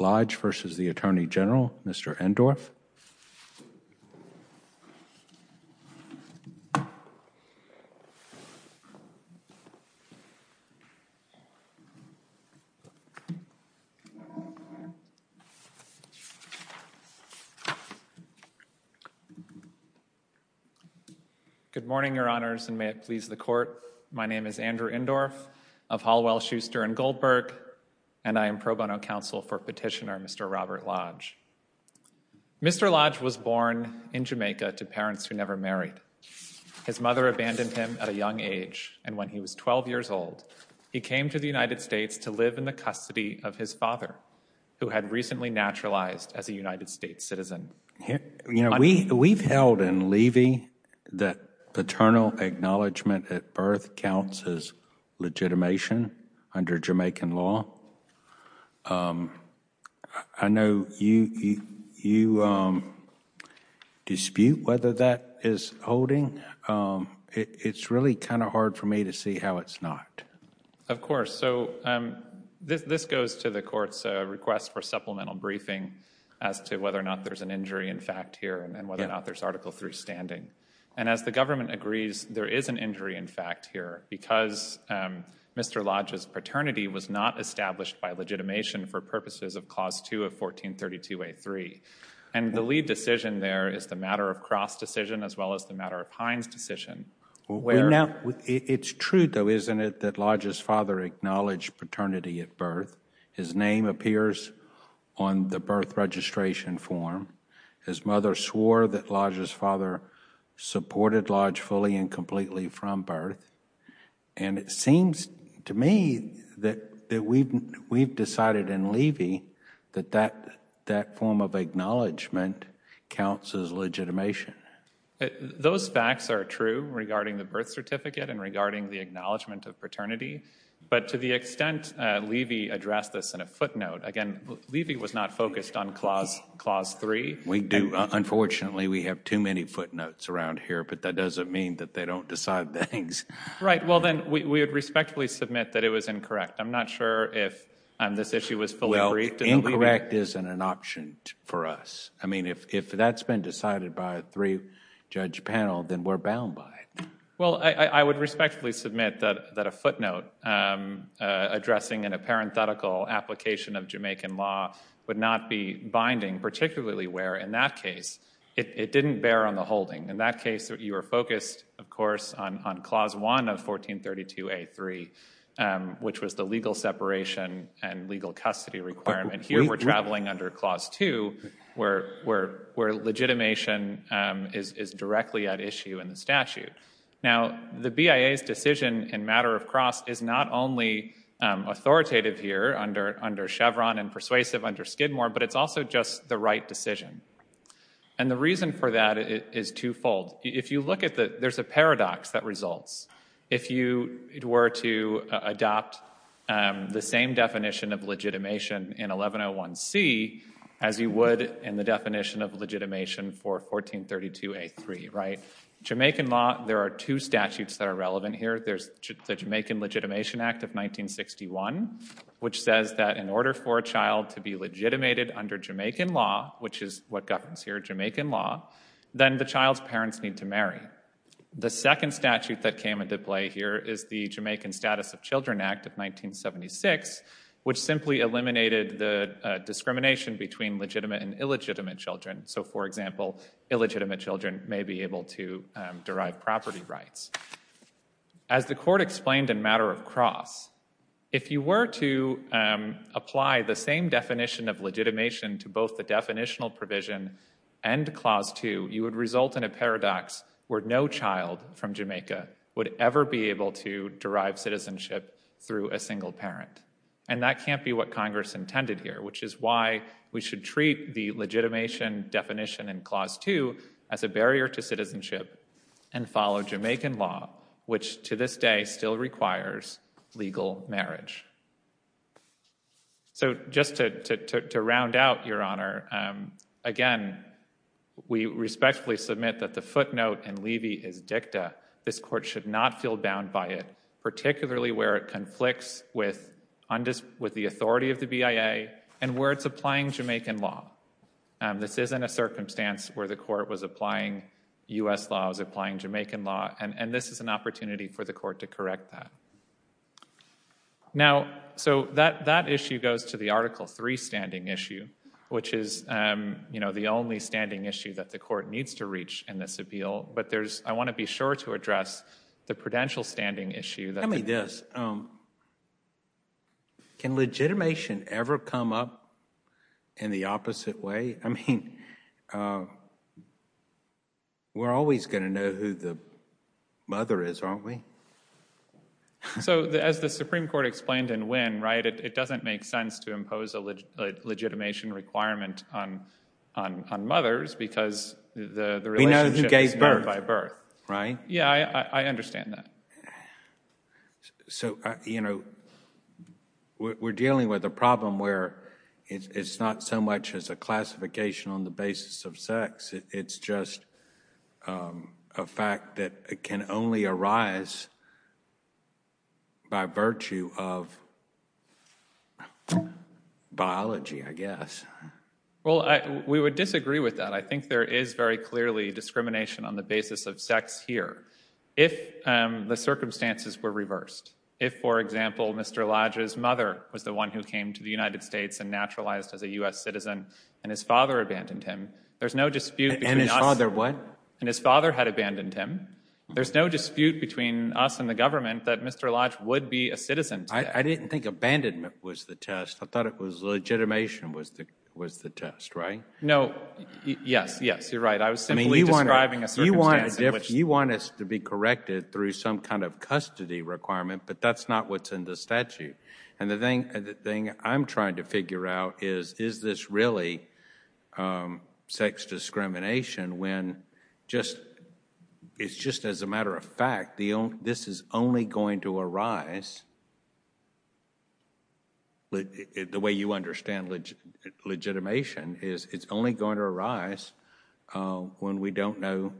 Lodge v. U.S. Attorney General, Mr. Endorff. Good morning, Your Honors, and may it please the Court. My name is Andrew Endorff of Hall, Well, Schuster & Goldberg, and I am pro bono counsel for Petitioner, Mr. Robert Lodge. Mr. Lodge was born in Jamaica to parents who never married. His mother abandoned him at a young age, and when he was 12 years old, he came to the United States to live in the custody of his father, who had recently naturalized as a United States citizen. You know, we've held in Levy that paternal acknowledgment at birth counts as legitimation under Jamaican law. I know you dispute whether that is holding. It's really kind of hard for me to see how it's not. Of course. So this goes to the Court's request for supplemental briefing as to whether or not there's an injury in fact here and whether or not there's Article III standing. And as the government agrees, there is an injury in fact here because Mr. Lodge's paternity was not established by legitimation for purposes of Clause 2 of 1432a3. And the lead decision there is the Matter of Cross decision as well as the Matter of Pines decision. It's true, though, isn't it, that Lodge's father acknowledged paternity at birth. His name appears on the birth registration form. His mother swore that Lodge's father supported Lodge fully and completely from birth. And it seems to me that we've decided in Levy that that form of acknowledgment counts as legitimation. Those facts are true regarding the birth certificate and regarding the acknowledgment of paternity. But to the extent Levy addressed this in a footnote, again, Levy was not focused on Clause 3. We do. Unfortunately, we have too many footnotes around here, but that doesn't mean that they don't decide things. Right. Well, then, we would respectfully submit that it was incorrect. I'm not sure if this issue was fully agreed to in Levy. Well, incorrect isn't an option for us. I mean, if that's been decided by a three-judge panel, then we're bound by it. Well, I would respectfully submit that a footnote addressing an apparent theoretical application of Jamaican law would not be binding, particularly where, in that case, it didn't bear on the holding. In that case, you were focused, of course, on Clause 1 of 1432A.3, which was the legal separation and legal custody requirement. Here we're traveling under Clause 2, where legitimation is directly at issue in the statute. Now, the BIA's decision in matter of cross is not only authoritative here under Chevron and persuasive under Skidmore, but it's also just the right decision. And the reason for that is twofold. If you look at the—there's a paradox that results. If you were to adopt the same definition of legitimation in 1101C as you would in the definition of legitimation for 1432A.3, right? Jamaican law, there are two statutes that are relevant here. There's the Jamaican Legitimation Act of 1961, which says that in order for a child to be legitimated under Jamaican law, which is what governs here, Jamaican law, then the child's parents need to marry. The second statute that came into play here is the Jamaican Status of Children Act of 1976, which simply eliminated the discrimination between legitimate and illegitimate children. So, for example, illegitimate children may be able to derive property rights. As the court explained in matter of cross, if you were to apply the same definition of legitimation to both the definitional provision and Clause 2, you would result in a paradox where no child from Jamaica would ever be able to derive citizenship through a single parent. And that can't be what Congress intended here, which is why we should treat the legitimation definition in Clause 2 as a barrier to citizenship and follow Jamaican law, which to this day still requires legal marriage. So just to round out, Your Honor, again, we respectfully submit that the footnote in Levy is dicta. This court should not feel bound by it, particularly where it conflicts with the authority of the BIA and where it's applying Jamaican law. This isn't a circumstance where the court was applying U.S. laws, applying Jamaican law, and this is an opportunity for the court to correct that. Now, so that issue goes to the Article 3 standing issue, which is, you know, the only standing issue that the court needs to reach in this appeal. But there's, I want to be sure to address the prudential standing issue that Tell me this. Can legitimation ever come up in the opposite way? I mean, we're always going to know who the mother is, aren't we? So as the Supreme Court explained in Wynne, right, it doesn't make sense to impose a legitimation requirement on mothers because the relationship is made by birth, right? Yeah, I understand that. So you know, we're dealing with a problem where it's not so much as a classification on the basis of sex. It's just a fact that can only arise by virtue of biology, I guess. Well, we would disagree with that. I think there is very clearly discrimination on the basis of sex here. If the circumstances were reversed, if, for example, Mr. Lodge's mother was the one who came to the United States and naturalized as a U.S. citizen and his father abandoned him, there's no dispute between us. And his father what? And his father had abandoned him. There's no dispute between us and the government that Mr. Lodge would be a citizen today. I didn't think abandonment was the test. I thought it was legitimation was the test, right? No, yes, yes, you're right. I was simply describing a circumstance in which. You want us to be corrected through some kind of custody requirement, but that's not what's in the statute. Right. And the thing I'm trying to figure out is, is this really sex discrimination when just it's just as a matter of fact, this is only going to arise. The way you understand legitimation is it's only going to arise when we don't know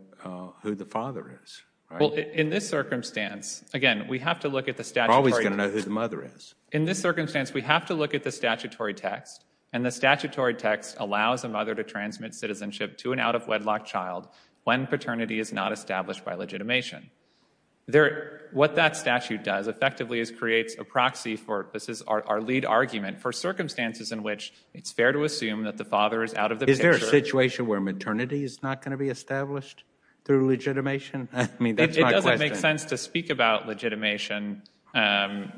who the father is. Well, in this circumstance, again, we have to look at the statute. We're always going to know who the mother is. In this circumstance, we have to look at the statutory text and the statutory text allows a mother to transmit citizenship to an out of wedlock child when paternity is not established by legitimation. What that statute does effectively is creates a proxy for this is our lead argument for circumstances in which it's fair to assume that the father is out of the picture. Is there a situation where maternity is not going to be established through legitimation? I mean, that's my question. It doesn't make sense to speak about legitimation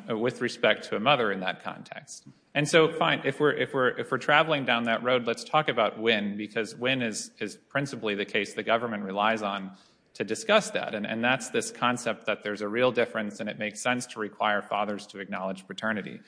with respect to a mother in that context. And so, fine, if we're traveling down that road, let's talk about when, because when is principally the case the government relies on to discuss that. And that's this concept that there's a real difference and it makes sense to require fathers to acknowledge paternity.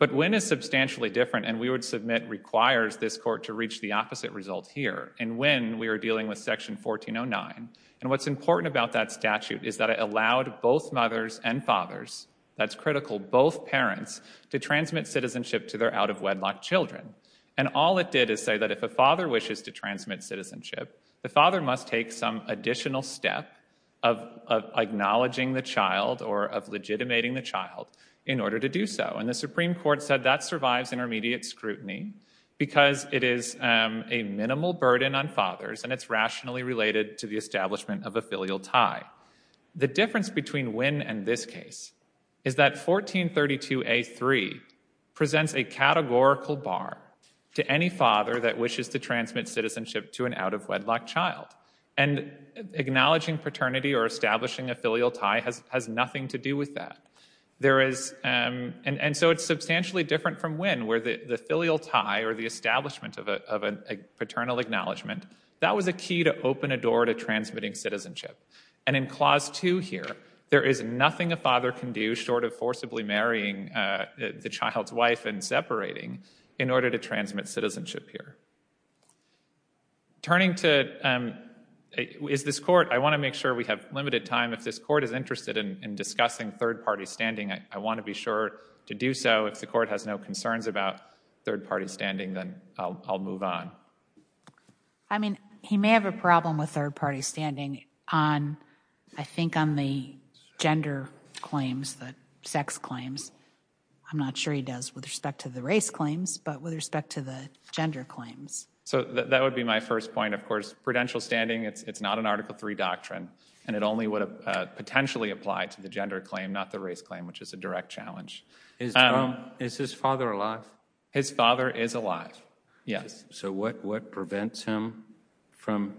But when is substantially different and we would submit requires this court to reach the opposite result here. And when we are dealing with section 1409 and what's important about that statute is that it allowed both mothers and fathers, that's critical, both parents to transmit citizenship to their out of wedlock children. And all it did is say that if a father wishes to transmit citizenship, the father must take some additional step of acknowledging the child or of legitimating the child in order to do so. And the Supreme Court said that survives intermediate scrutiny because it is a minimal burden on fathers and it's rationally related to the establishment of a filial tie. The difference between when and this case is that 1432A3 presents a categorical bar to any father that wishes to transmit citizenship to an out of wedlock child. And acknowledging paternity or establishing a filial tie has nothing to do with that. There is, and so it's substantially different from when where the filial tie or the establishment of a paternal acknowledgement, that was a key to open a door to transmitting citizenship. And in Clause 2 here, there is nothing a father can do short of forcibly marrying the child's wife and separating in order to transmit citizenship here. Turning to, is this court, I want to make sure we have limited time, if this court is standing, I want to be sure to do so. If the court has no concerns about third-party standing, then I'll move on. I mean, he may have a problem with third-party standing on, I think, on the gender claims, the sex claims. I'm not sure he does with respect to the race claims, but with respect to the gender claims. So that would be my first point, of course. Prudential standing, it's not an Article III doctrine, and it only would have potentially applied to the gender claim, not the race claim, which is a direct challenge. Is his father alive? His father is alive, yes. So what prevents him from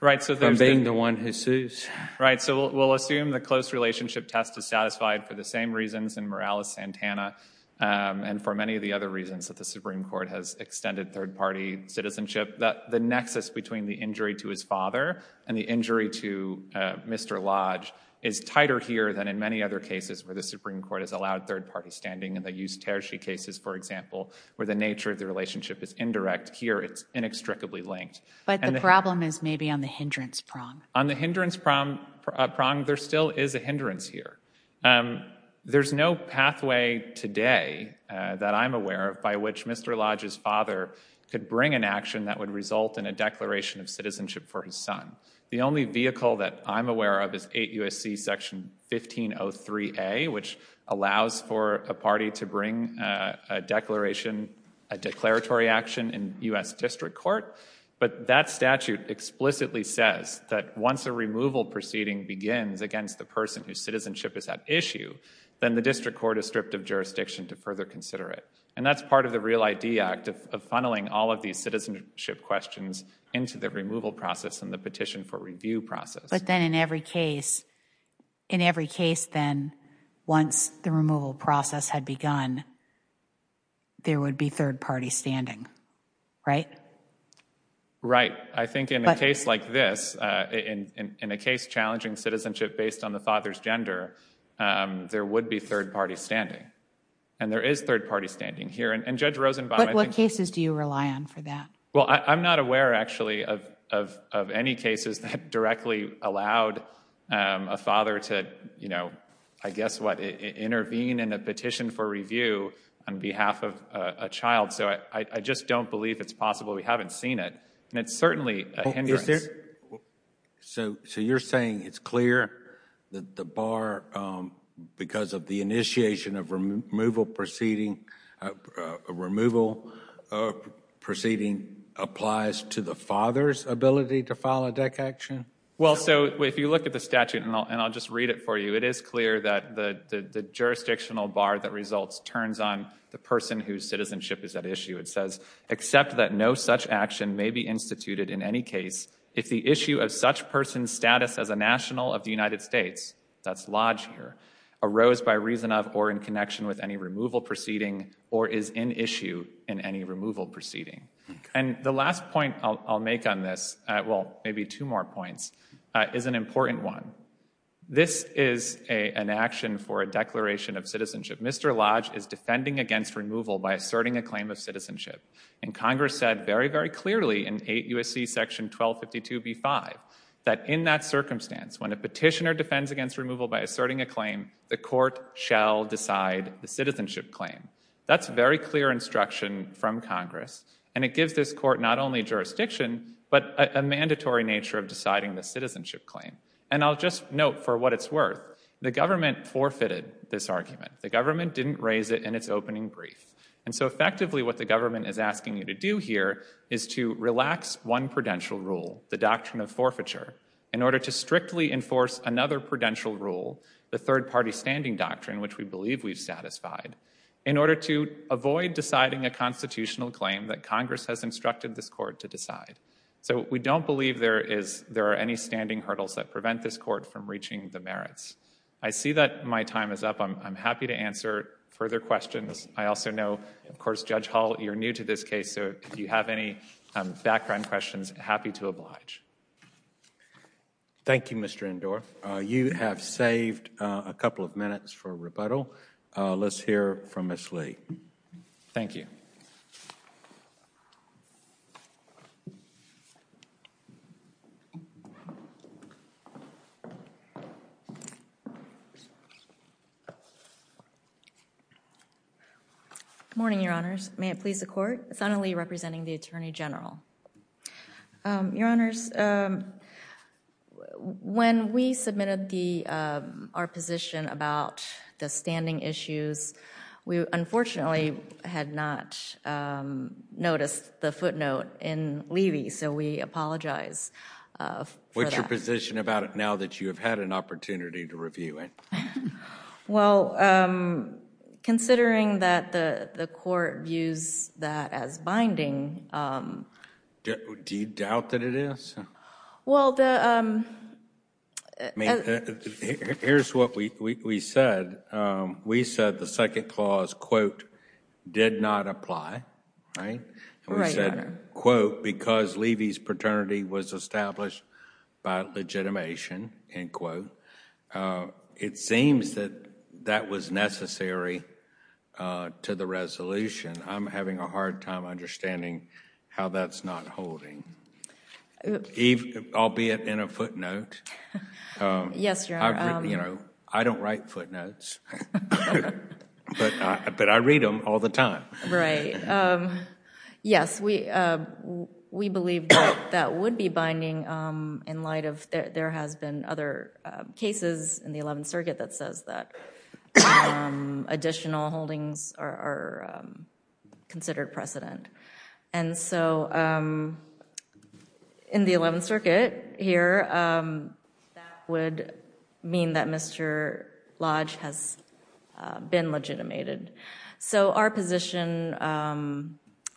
being the one who sues? Right, so we'll assume the close relationship test is satisfied for the same reasons in Morales-Santana and for many of the other reasons that the Supreme Court has extended third-party citizenship. The nexus between the injury to his father and the injury to Mr. Lodge is tighter here than in many other cases where the Supreme Court has allowed third-party standing. In the Eustairshe cases, for example, where the nature of the relationship is indirect, here it's inextricably linked. But the problem is maybe on the hindrance prong. On the hindrance prong, there still is a hindrance here. There's no pathway today that I'm aware of by which Mr. Lodge's father could bring an action that would result in a declaration of citizenship for his son. The only vehicle that I'm aware of is 8 U.S.C. section 1503A, which allows for a party to bring a declaration, a declaratory action in U.S. district court. But that statute explicitly says that once a removal proceeding begins against the person whose citizenship is at issue, then the district court is stripped of jurisdiction to further consider it. And that's part of the REAL ID Act, of funneling all of these citizenship questions into the removal process and the petition for review process. But then in every case, in every case then, once the removal process had begun, there would be third-party standing, right? Right. I think in a case like this, in a case challenging citizenship based on the father's gender, there would be third-party standing. And there is third-party standing here. And Judge Rosenbaum, I think... But what cases do you rely on for that? Well, I'm not aware, actually, of any cases that directly allowed a father to, you know, I guess what, intervene in a petition for review on behalf of a child. So I just don't believe it's possible. We haven't seen it. And it's certainly a hindrance. So you're saying it's clear that the bar, because of the initiation of removal proceeding, removal proceeding applies to the father's ability to file a DEC action? Well, so if you look at the statute, and I'll just read it for you, it is clear that the jurisdictional bar that results turns on the person whose citizenship is at issue. It says, except that no such action may be instituted in any case if the issue of such person's status as a national of the United States, that's Lodge here, arose by reason of or in connection with any removal proceeding or is in issue in any removal proceeding. And the last point I'll make on this, well, maybe two more points, is an important one. Mr. Lodge is defending against removal by asserting a claim of citizenship. And Congress said very, very clearly in 8 U.S.C. section 1252b5 that in that circumstance, when a petitioner defends against removal by asserting a claim, the court shall decide the citizenship claim. That's very clear instruction from Congress. And it gives this court not only jurisdiction, but a mandatory nature of deciding the citizenship claim. And I'll just note for what it's worth, the government forfeited this argument. The government didn't raise it in its opening brief. And so effectively what the government is asking you to do here is to relax one prudential rule, the doctrine of forfeiture, in order to strictly enforce another prudential rule, the third-party standing doctrine, which we believe we've satisfied, in order to avoid deciding a constitutional claim that Congress has instructed this court to decide. So we don't believe there are any standing hurdles that prevent this court from reaching the merits. I see that my time is up. I'm happy to answer further questions. I also know, of course, Judge Hall, you're new to this case, so if you have any background questions, happy to oblige. Thank you, Mr. Indore. You have saved a couple of minutes for rebuttal. Let's hear from Ms. Lee. Thank you. Good morning, Your Honors. May it please the Court? Senator Lee, representing the Attorney General. Your Honors, when we submitted our position about the standing issues, we unfortunately had not noticed the footnote in Levy, so we apologize for that. What's your position about it now that you have had an opportunity to review it? Well, considering that the court views that as binding. Do you doubt that it is? Well, the... Here's what we said. We said the second clause, quote, did not apply, right? Right, Your Honor. And we said, quote, because Levy's paternity was established by legitimation, end quote. It seems that that was necessary to the resolution. I'm having a hard time understanding how that's not holding, albeit in a footnote. Yes, Your Honor. I don't write footnotes, but I read them all the time. Right. Yes, we believe that that would be binding in light of there has been other cases in the Eleventh Circuit that says that additional holdings are considered precedent. And so in the Eleventh Circuit here, that would mean that Mr. Lodge has been legitimated. So our position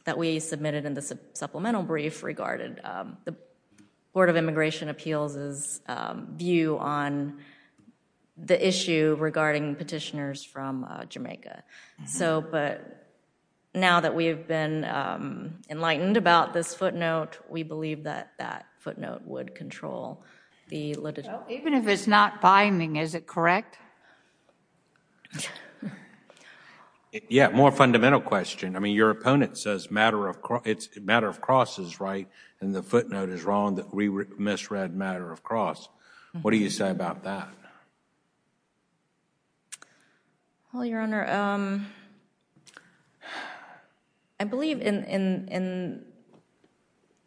that we submitted in the supplemental brief regarded the Board of Immigration Appeals' view on the issue regarding petitioners from Jamaica. So but now that we have been enlightened about this footnote, we believe that that footnote would control the litigation. Even if it's not binding, is it correct? Yeah, more fundamental question. I mean, your opponent says matter of, it's a matter of crosses, right? And the footnote is wrong that we misread matter of cross. What do you say about that? Well, Your Honor, I believe in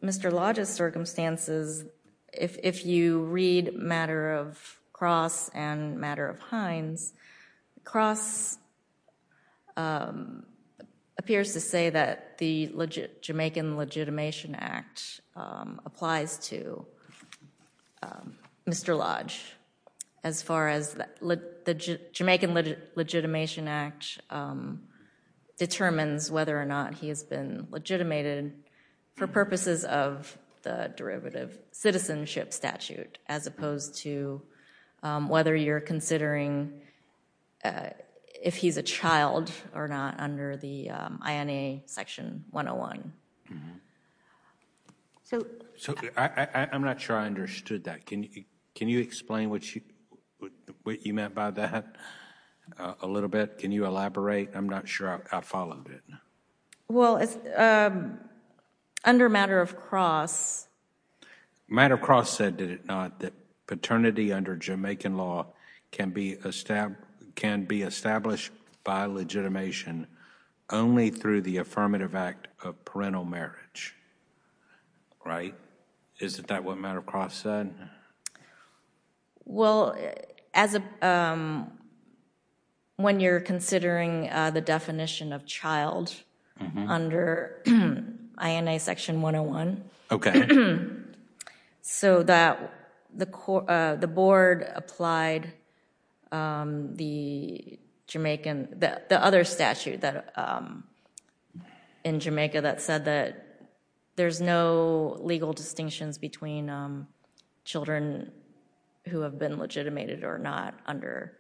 Mr. Lodge's circumstances, if you read matter of cross and matter of hinds, cross appears to say that the Jamaican Legitimation Act applies to Mr. Lodge as far as the Jamaican Legitimation Act determines whether or not he has been legitimated for purposes of the derivative citizenship statute as opposed to whether you're considering if he's a child or not under the INA Section 101. So I'm not sure I understood that. Can you explain what you meant by that a little bit? Can you elaborate? I'm not sure I followed it. Well, under matter of cross. Matter of cross said, did it not, that paternity under Jamaican law can be established by legitimation only through the affirmative act of parental marriage, right? Isn't that what matter of cross said? Well, as a, when you're considering the definition of child under INA Section 101, so that the statute that, in Jamaica, that said that there's no legal distinctions between children who have been legitimated or not under,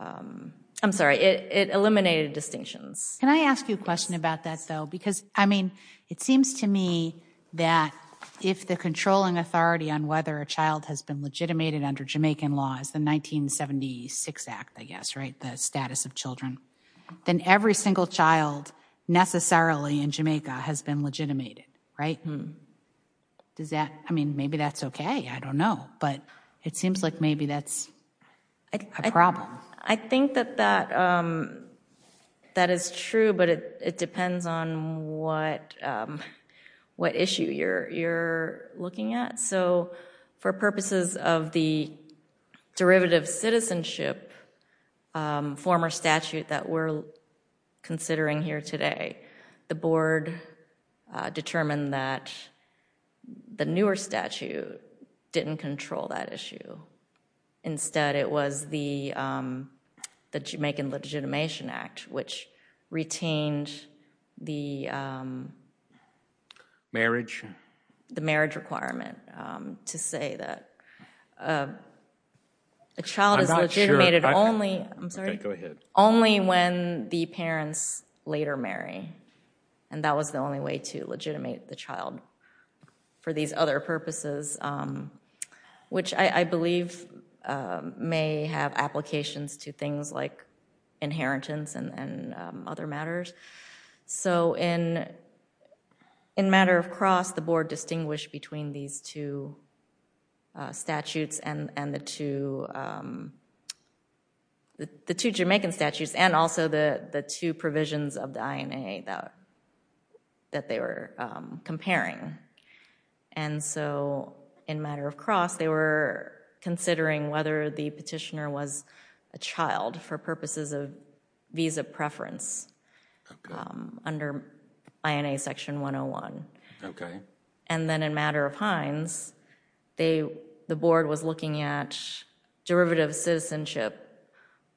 I'm sorry, it eliminated distinctions. Can I ask you a question about that though? Because I mean, it seems to me that if the controlling authority on whether a child has been legitimated under Jamaican law is the 1976 Act, I guess, right, the status of children, then every single child necessarily in Jamaica has been legitimated, right? Does that, I mean, maybe that's okay. I don't know. But it seems like maybe that's a problem. I think that that is true, but it depends on what issue you're looking at. So for purposes of the derivative citizenship, former statute that we're considering here today, the board determined that the newer statute didn't control that issue. Instead, it was the Jamaican Legitimation Act, which retained the marriage requirement. To say that a child is legitimated only, I'm sorry, only when the parents later marry. And that was the only way to legitimate the child for these other purposes, which I believe may have applications to things like inheritance and other matters. So in matter of cross, the board distinguished between these two statutes and the two Jamaican statutes and also the two provisions of the INA that they were comparing. And so in matter of cross, they were considering whether the petitioner was a child for purposes of visa preference under INA section 101. And then in matter of hinds, the board was looking at derivative citizenship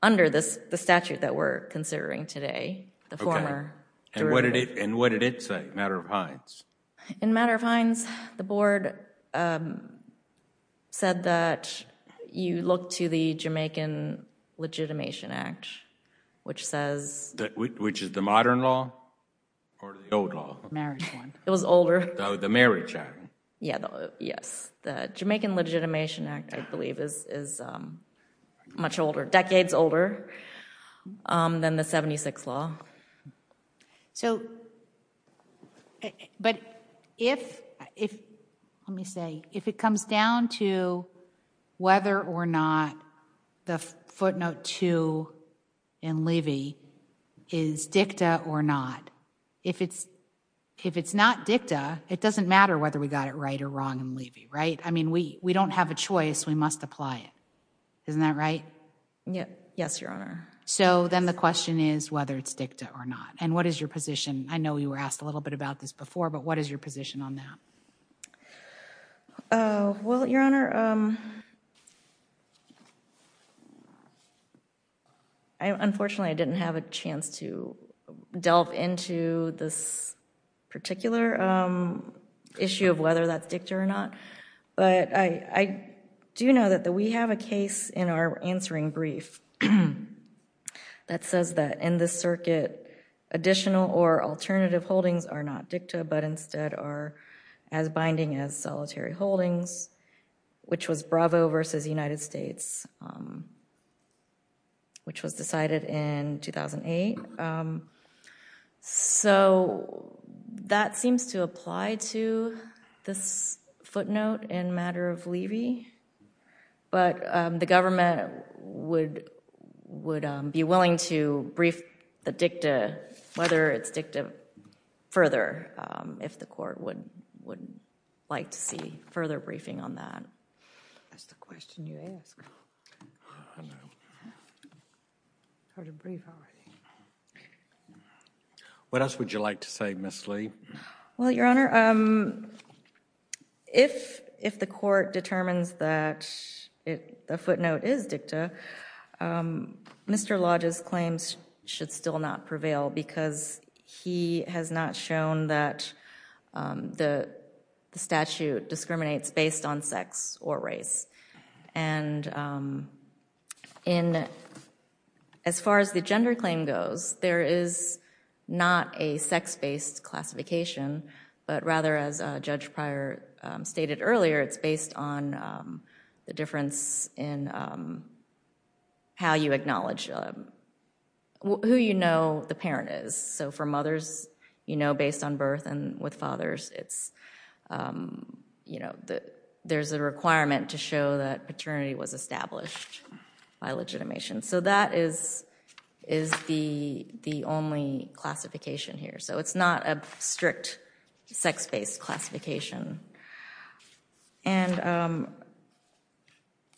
under the statute that we're considering today, the former. And what did it say, matter of hinds? In matter of hinds, the board said that you look to the Jamaican Legitimation Act. Which says... Which is the modern law or the old law? Marriage one. It was older. The marriage act. Yeah, yes. The Jamaican Legitimation Act, I believe, is much older, decades older than the 76 law. So, but if, let me say, if it comes down to whether or not the footnote two in Levy is dicta or not, if it's not dicta, it doesn't matter whether we got it right or wrong in Levy, right? I mean, we don't have a choice. We must apply it. Isn't that right? Yes, Your Honor. So then the question is whether it's dicta or not. What is your position? I know you were asked a little bit about this before, but what is your position on that? Well, Your Honor, unfortunately, I didn't have a chance to delve into this particular issue of whether that's dicta or not. But I do know that we have a case in our answering brief that says that in the circuit, additional or alternative holdings are not dicta, but instead are as binding as solitary holdings, which was Bravo versus United States, which was decided in 2008. So that seems to apply to this footnote in matter of Levy. But the government would be willing to brief the dicta, whether it's dicta, further, if the court would like to see further briefing on that. That's the question you asked. I heard a brief already. What else would you like to say, Ms. Lee? Well, Your Honor, if the court determines that a footnote is dicta, Mr. Lodge's claims should still not prevail because he has not shown that the statute discriminates based on sex or race. And as far as the gender claim goes, there is not a sex-based classification, but rather, as Judge Pryor stated earlier, it's based on the difference in how you acknowledge who you know the parent is. So for mothers, based on birth and with fathers, it's, you know, there's a requirement to show that paternity was established by legitimation. So that is the only classification here. So it's not a strict sex-based classification. And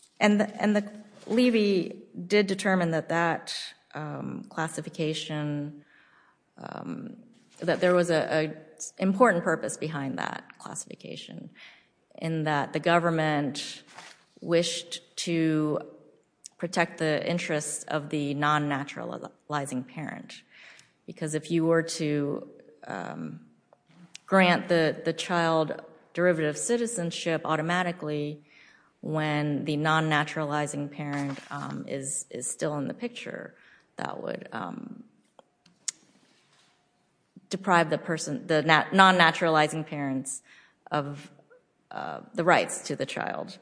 the Levy did determine that that classification, that there was an important purpose behind that classification in that the government wished to protect the interests of the non-naturalizing parent. Because if you were to grant the child derivative citizenship automatically when the non-naturalizing parent is still in the picture, that would deprive the person, the non-naturalizing parents of the rights to the child.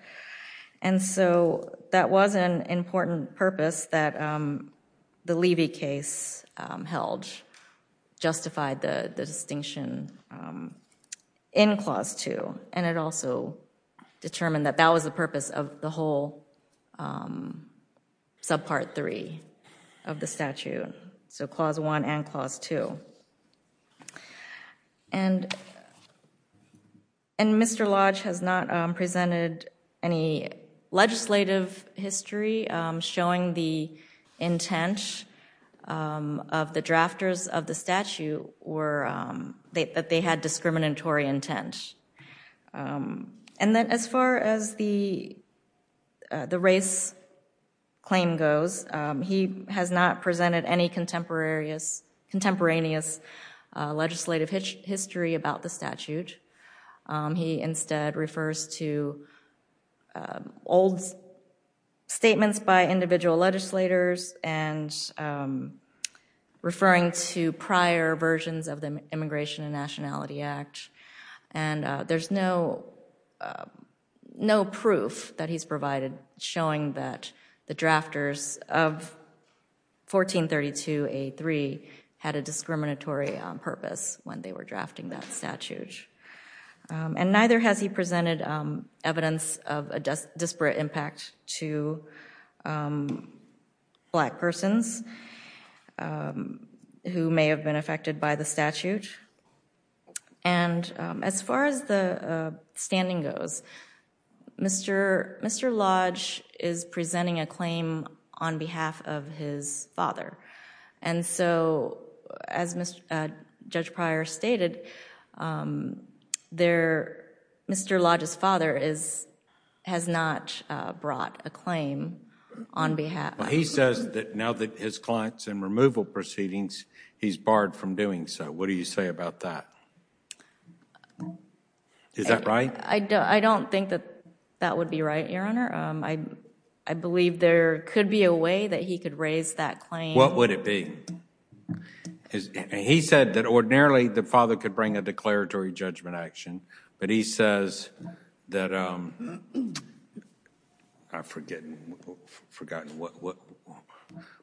And so that was an important purpose that the Levy case held, justified the distinction in Clause 2. And it also determined that that was the purpose of the whole subpart three of the statute. So Clause 1 and Clause 2. And Mr. Lodge has not presented any legislative history showing the intent of the drafters of the statute that they had discriminatory intent. And then as far as the race claim goes, he has not presented any contemporaneous legislative history about the statute. He instead refers to old statements by individual legislators and referring to prior versions of the Immigration and Nationality Act. And there's no proof that he's provided showing that the drafters of 1432A3 had a discriminatory purpose when they were drafting that statute. And neither has he presented evidence of a disparate impact to black persons who may have been affected by the statute. And as far as the standing goes, Mr. Lodge is presenting a claim on behalf of his father. And so as Judge Pryor stated, Mr. Lodge's father has not brought a claim on behalf. Well, he says that now that his client's in removal proceedings, he's barred from doing so. What do you say about that? Is that right? I don't think that that would be right, Your Honor. I believe there could be a way that he could raise that claim. What would it be? He said that ordinarily the father could bring a declaratory judgment action, but he says that, I've forgotten what,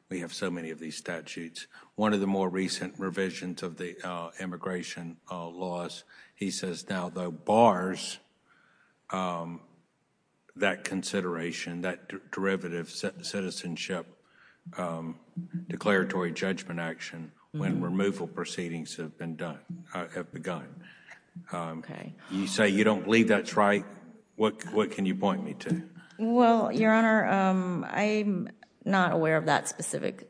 we have so many of these statutes. One of the more recent revisions of the immigration laws, he says now the bars that consideration, that derivative citizenship declaratory judgment action when removal proceedings have begun. You say you don't believe that's right. What can you point me to? Well, Your Honor, I'm not aware of that specific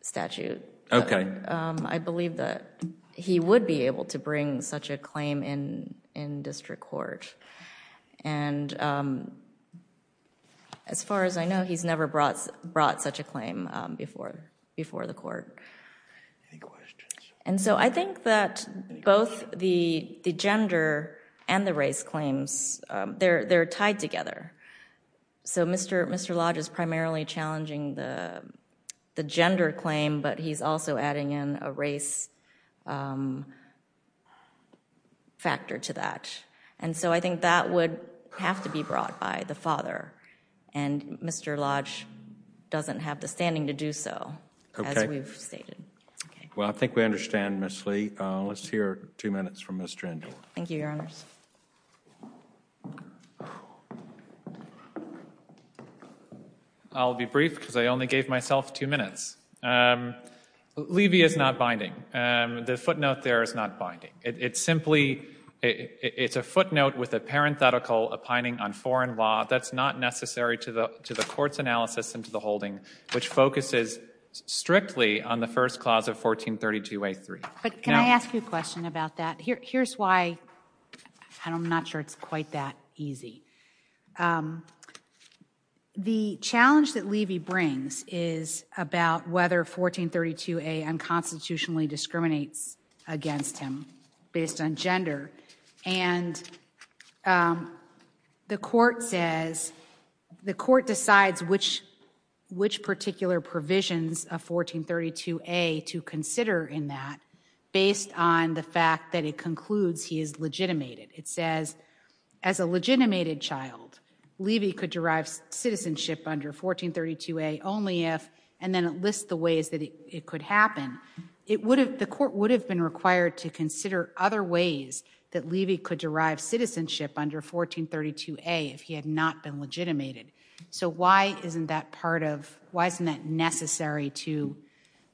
statute. I believe that he would be able to bring such a claim in district court. And as far as I know, he's never brought such a claim before the court. And so I think that both the gender and the race claims, they're tied together. So Mr. Lodge is primarily challenging the gender claim, but he's also adding in a race factor to that. And so I think that would have to be brought by the father. And Mr. Lodge doesn't have the standing to do so, as we've stated. Well, I think we understand, Ms. Lee. Let's hear two minutes from Mr. Endel. Thank you, Your Honors. I'll be brief, because I only gave myself two minutes. Levy is not binding. The footnote there is not binding. It's simply, it's a footnote with a parenthetical opining on foreign law. That's not necessary to the court's analysis and to the holding, which focuses strictly on the first clause of 1432a3. But can I ask you a question about that? Here's why, and I'm not sure it's quite that easy. The challenge that Levy brings is about whether 1432a unconstitutionally discriminates against him based on gender. And the court says, the court decides which particular provisions of 1432a to consider in that, based on the fact that it concludes he is legitimated. It says, as a legitimated child, Levy could derive citizenship under 1432a only if, and then it lists the ways that it could happen. The court would have been required to consider other ways that Levy could derive citizenship under 1432a if he had not been legitimated. So why isn't that part of, why isn't that necessary to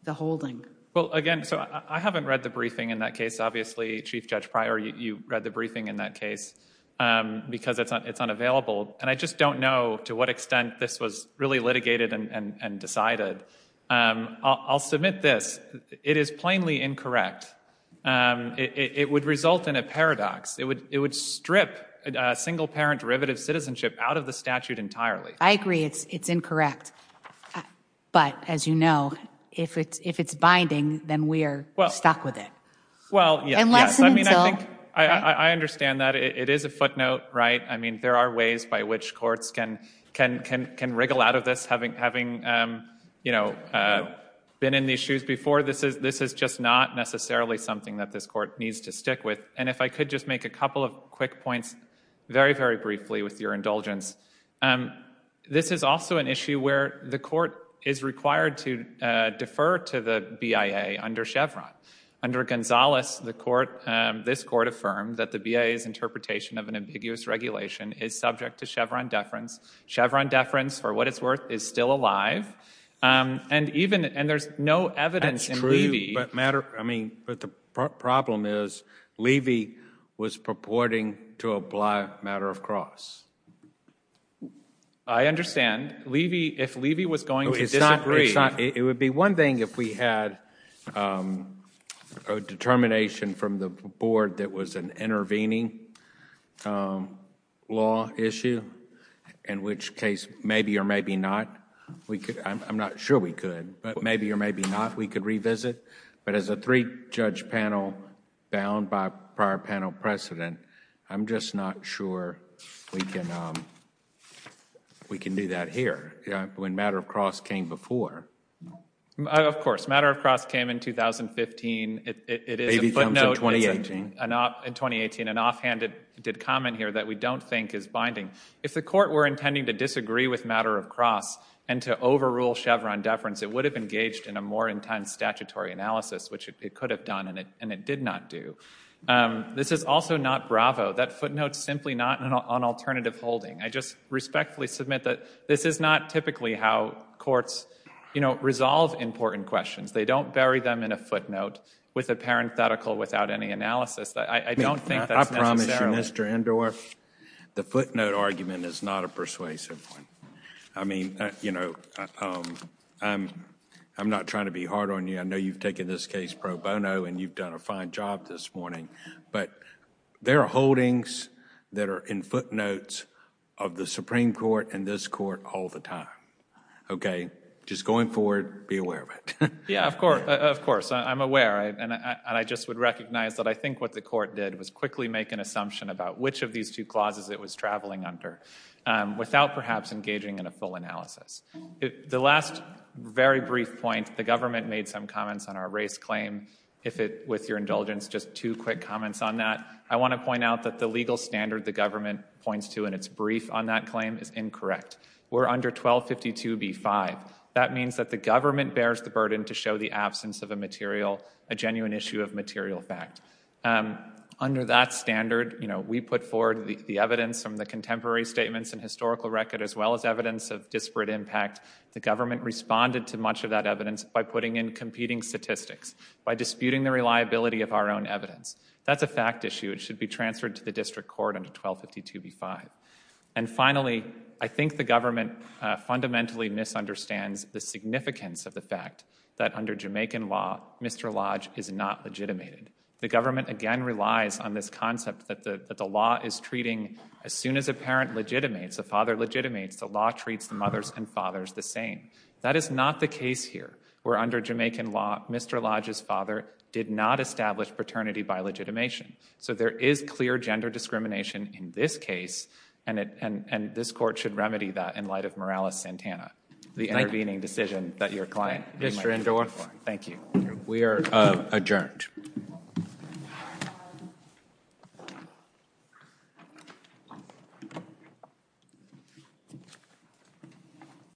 the holding? Well, again, so I haven't read the briefing in that case. Obviously, Chief Judge Pryor, you read the briefing in that case because it's unavailable. And I just don't know to what extent this was really litigated and decided. I'll submit this. It is plainly incorrect. It would result in a paradox. It would strip single-parent derivative citizenship out of the statute entirely. I agree it's incorrect. But as you know, if it's binding, then we're stuck with it. Well, yes, I mean, I think I understand that it is a footnote, right? I mean, there are ways by which courts can wriggle out of this having been in these shoes before. This is just not necessarily something that this court needs to stick with. And if I could just make a couple of quick points very, very briefly with your indulgence. This is also an issue where the court is required to defer to the BIA under Chevron, under Gonzales. This court affirmed that the BIA's interpretation of an ambiguous regulation is subject to Chevron deference. Chevron deference, for what it's worth, is still alive. And there's no evidence in Levy. That's true. I mean, but the problem is Levy was purporting to apply a matter of cross. I understand. If Levy was going to disagree. It would be one thing if we had a determination from the board that was an intervening law issue, in which case, maybe or maybe not, I'm not sure we could, but maybe or maybe not, we could revisit. But as a three-judge panel bound by prior panel precedent, I'm just not sure we can do that here. When matter of cross came before. Of course, matter of cross came in 2015. It is a footnote in 2018. And offhand, it did comment here that we don't think is binding. If the court were intending to disagree with matter of cross and to overrule Chevron deference, it would have engaged in a more intense statutory analysis, which it could have done, and it did not do. This is also not Bravo. That footnote is simply not on alternative holding. I just respectfully submit that this is not typically how courts, you know, resolve important questions. They don't bury them in a footnote with a parenthetical without any analysis. I don't think that's necessary. I promise you, Mr. Endor, the footnote argument is not a persuasive one. I mean, you know, I'm not trying to be hard on you. I know you've taken this case pro bono and you've done a fine job this morning, but there are holdings that are in footnotes of the Supreme Court and this Court all the time. OK, just going forward, be aware of it. Yeah, of course, of course, I'm aware and I just would recognize that I think what the court did was quickly make an assumption about which of these two clauses it was traveling under without perhaps engaging in a full analysis. The last very brief point, the government made some comments on our race claim. If it with your indulgence, just two quick comments on that. I want to point out that the legal standard the government points to in its brief on that claim is incorrect. We're under 1252 B5. That means that the government bears the burden to show the absence of a material, a genuine issue of material fact. Under that standard, you know, we put forward the evidence from the contemporary statements and historical record, as well as evidence of disparate impact. The government responded to much of that evidence by putting in competing statistics, by disputing the reliability of our own evidence. That's a fact issue. It should be transferred to the district court under 1252 B5. And finally, I think the government fundamentally misunderstands the significance of the fact that under Jamaican law, Mr. Lodge is not legitimated. The government again relies on this concept that the law is treating as soon as a parent legitimates, a father legitimates, the law treats the mothers and fathers the same. That is not the case here, where under Jamaican law, Mr. Lodge's father did not establish paternity by legitimation. So there is clear gender discrimination in this case, and this court should remedy that in light of Morales-Santana, the intervening decision that your client, Mr. Indore, thank you. We are adjourned.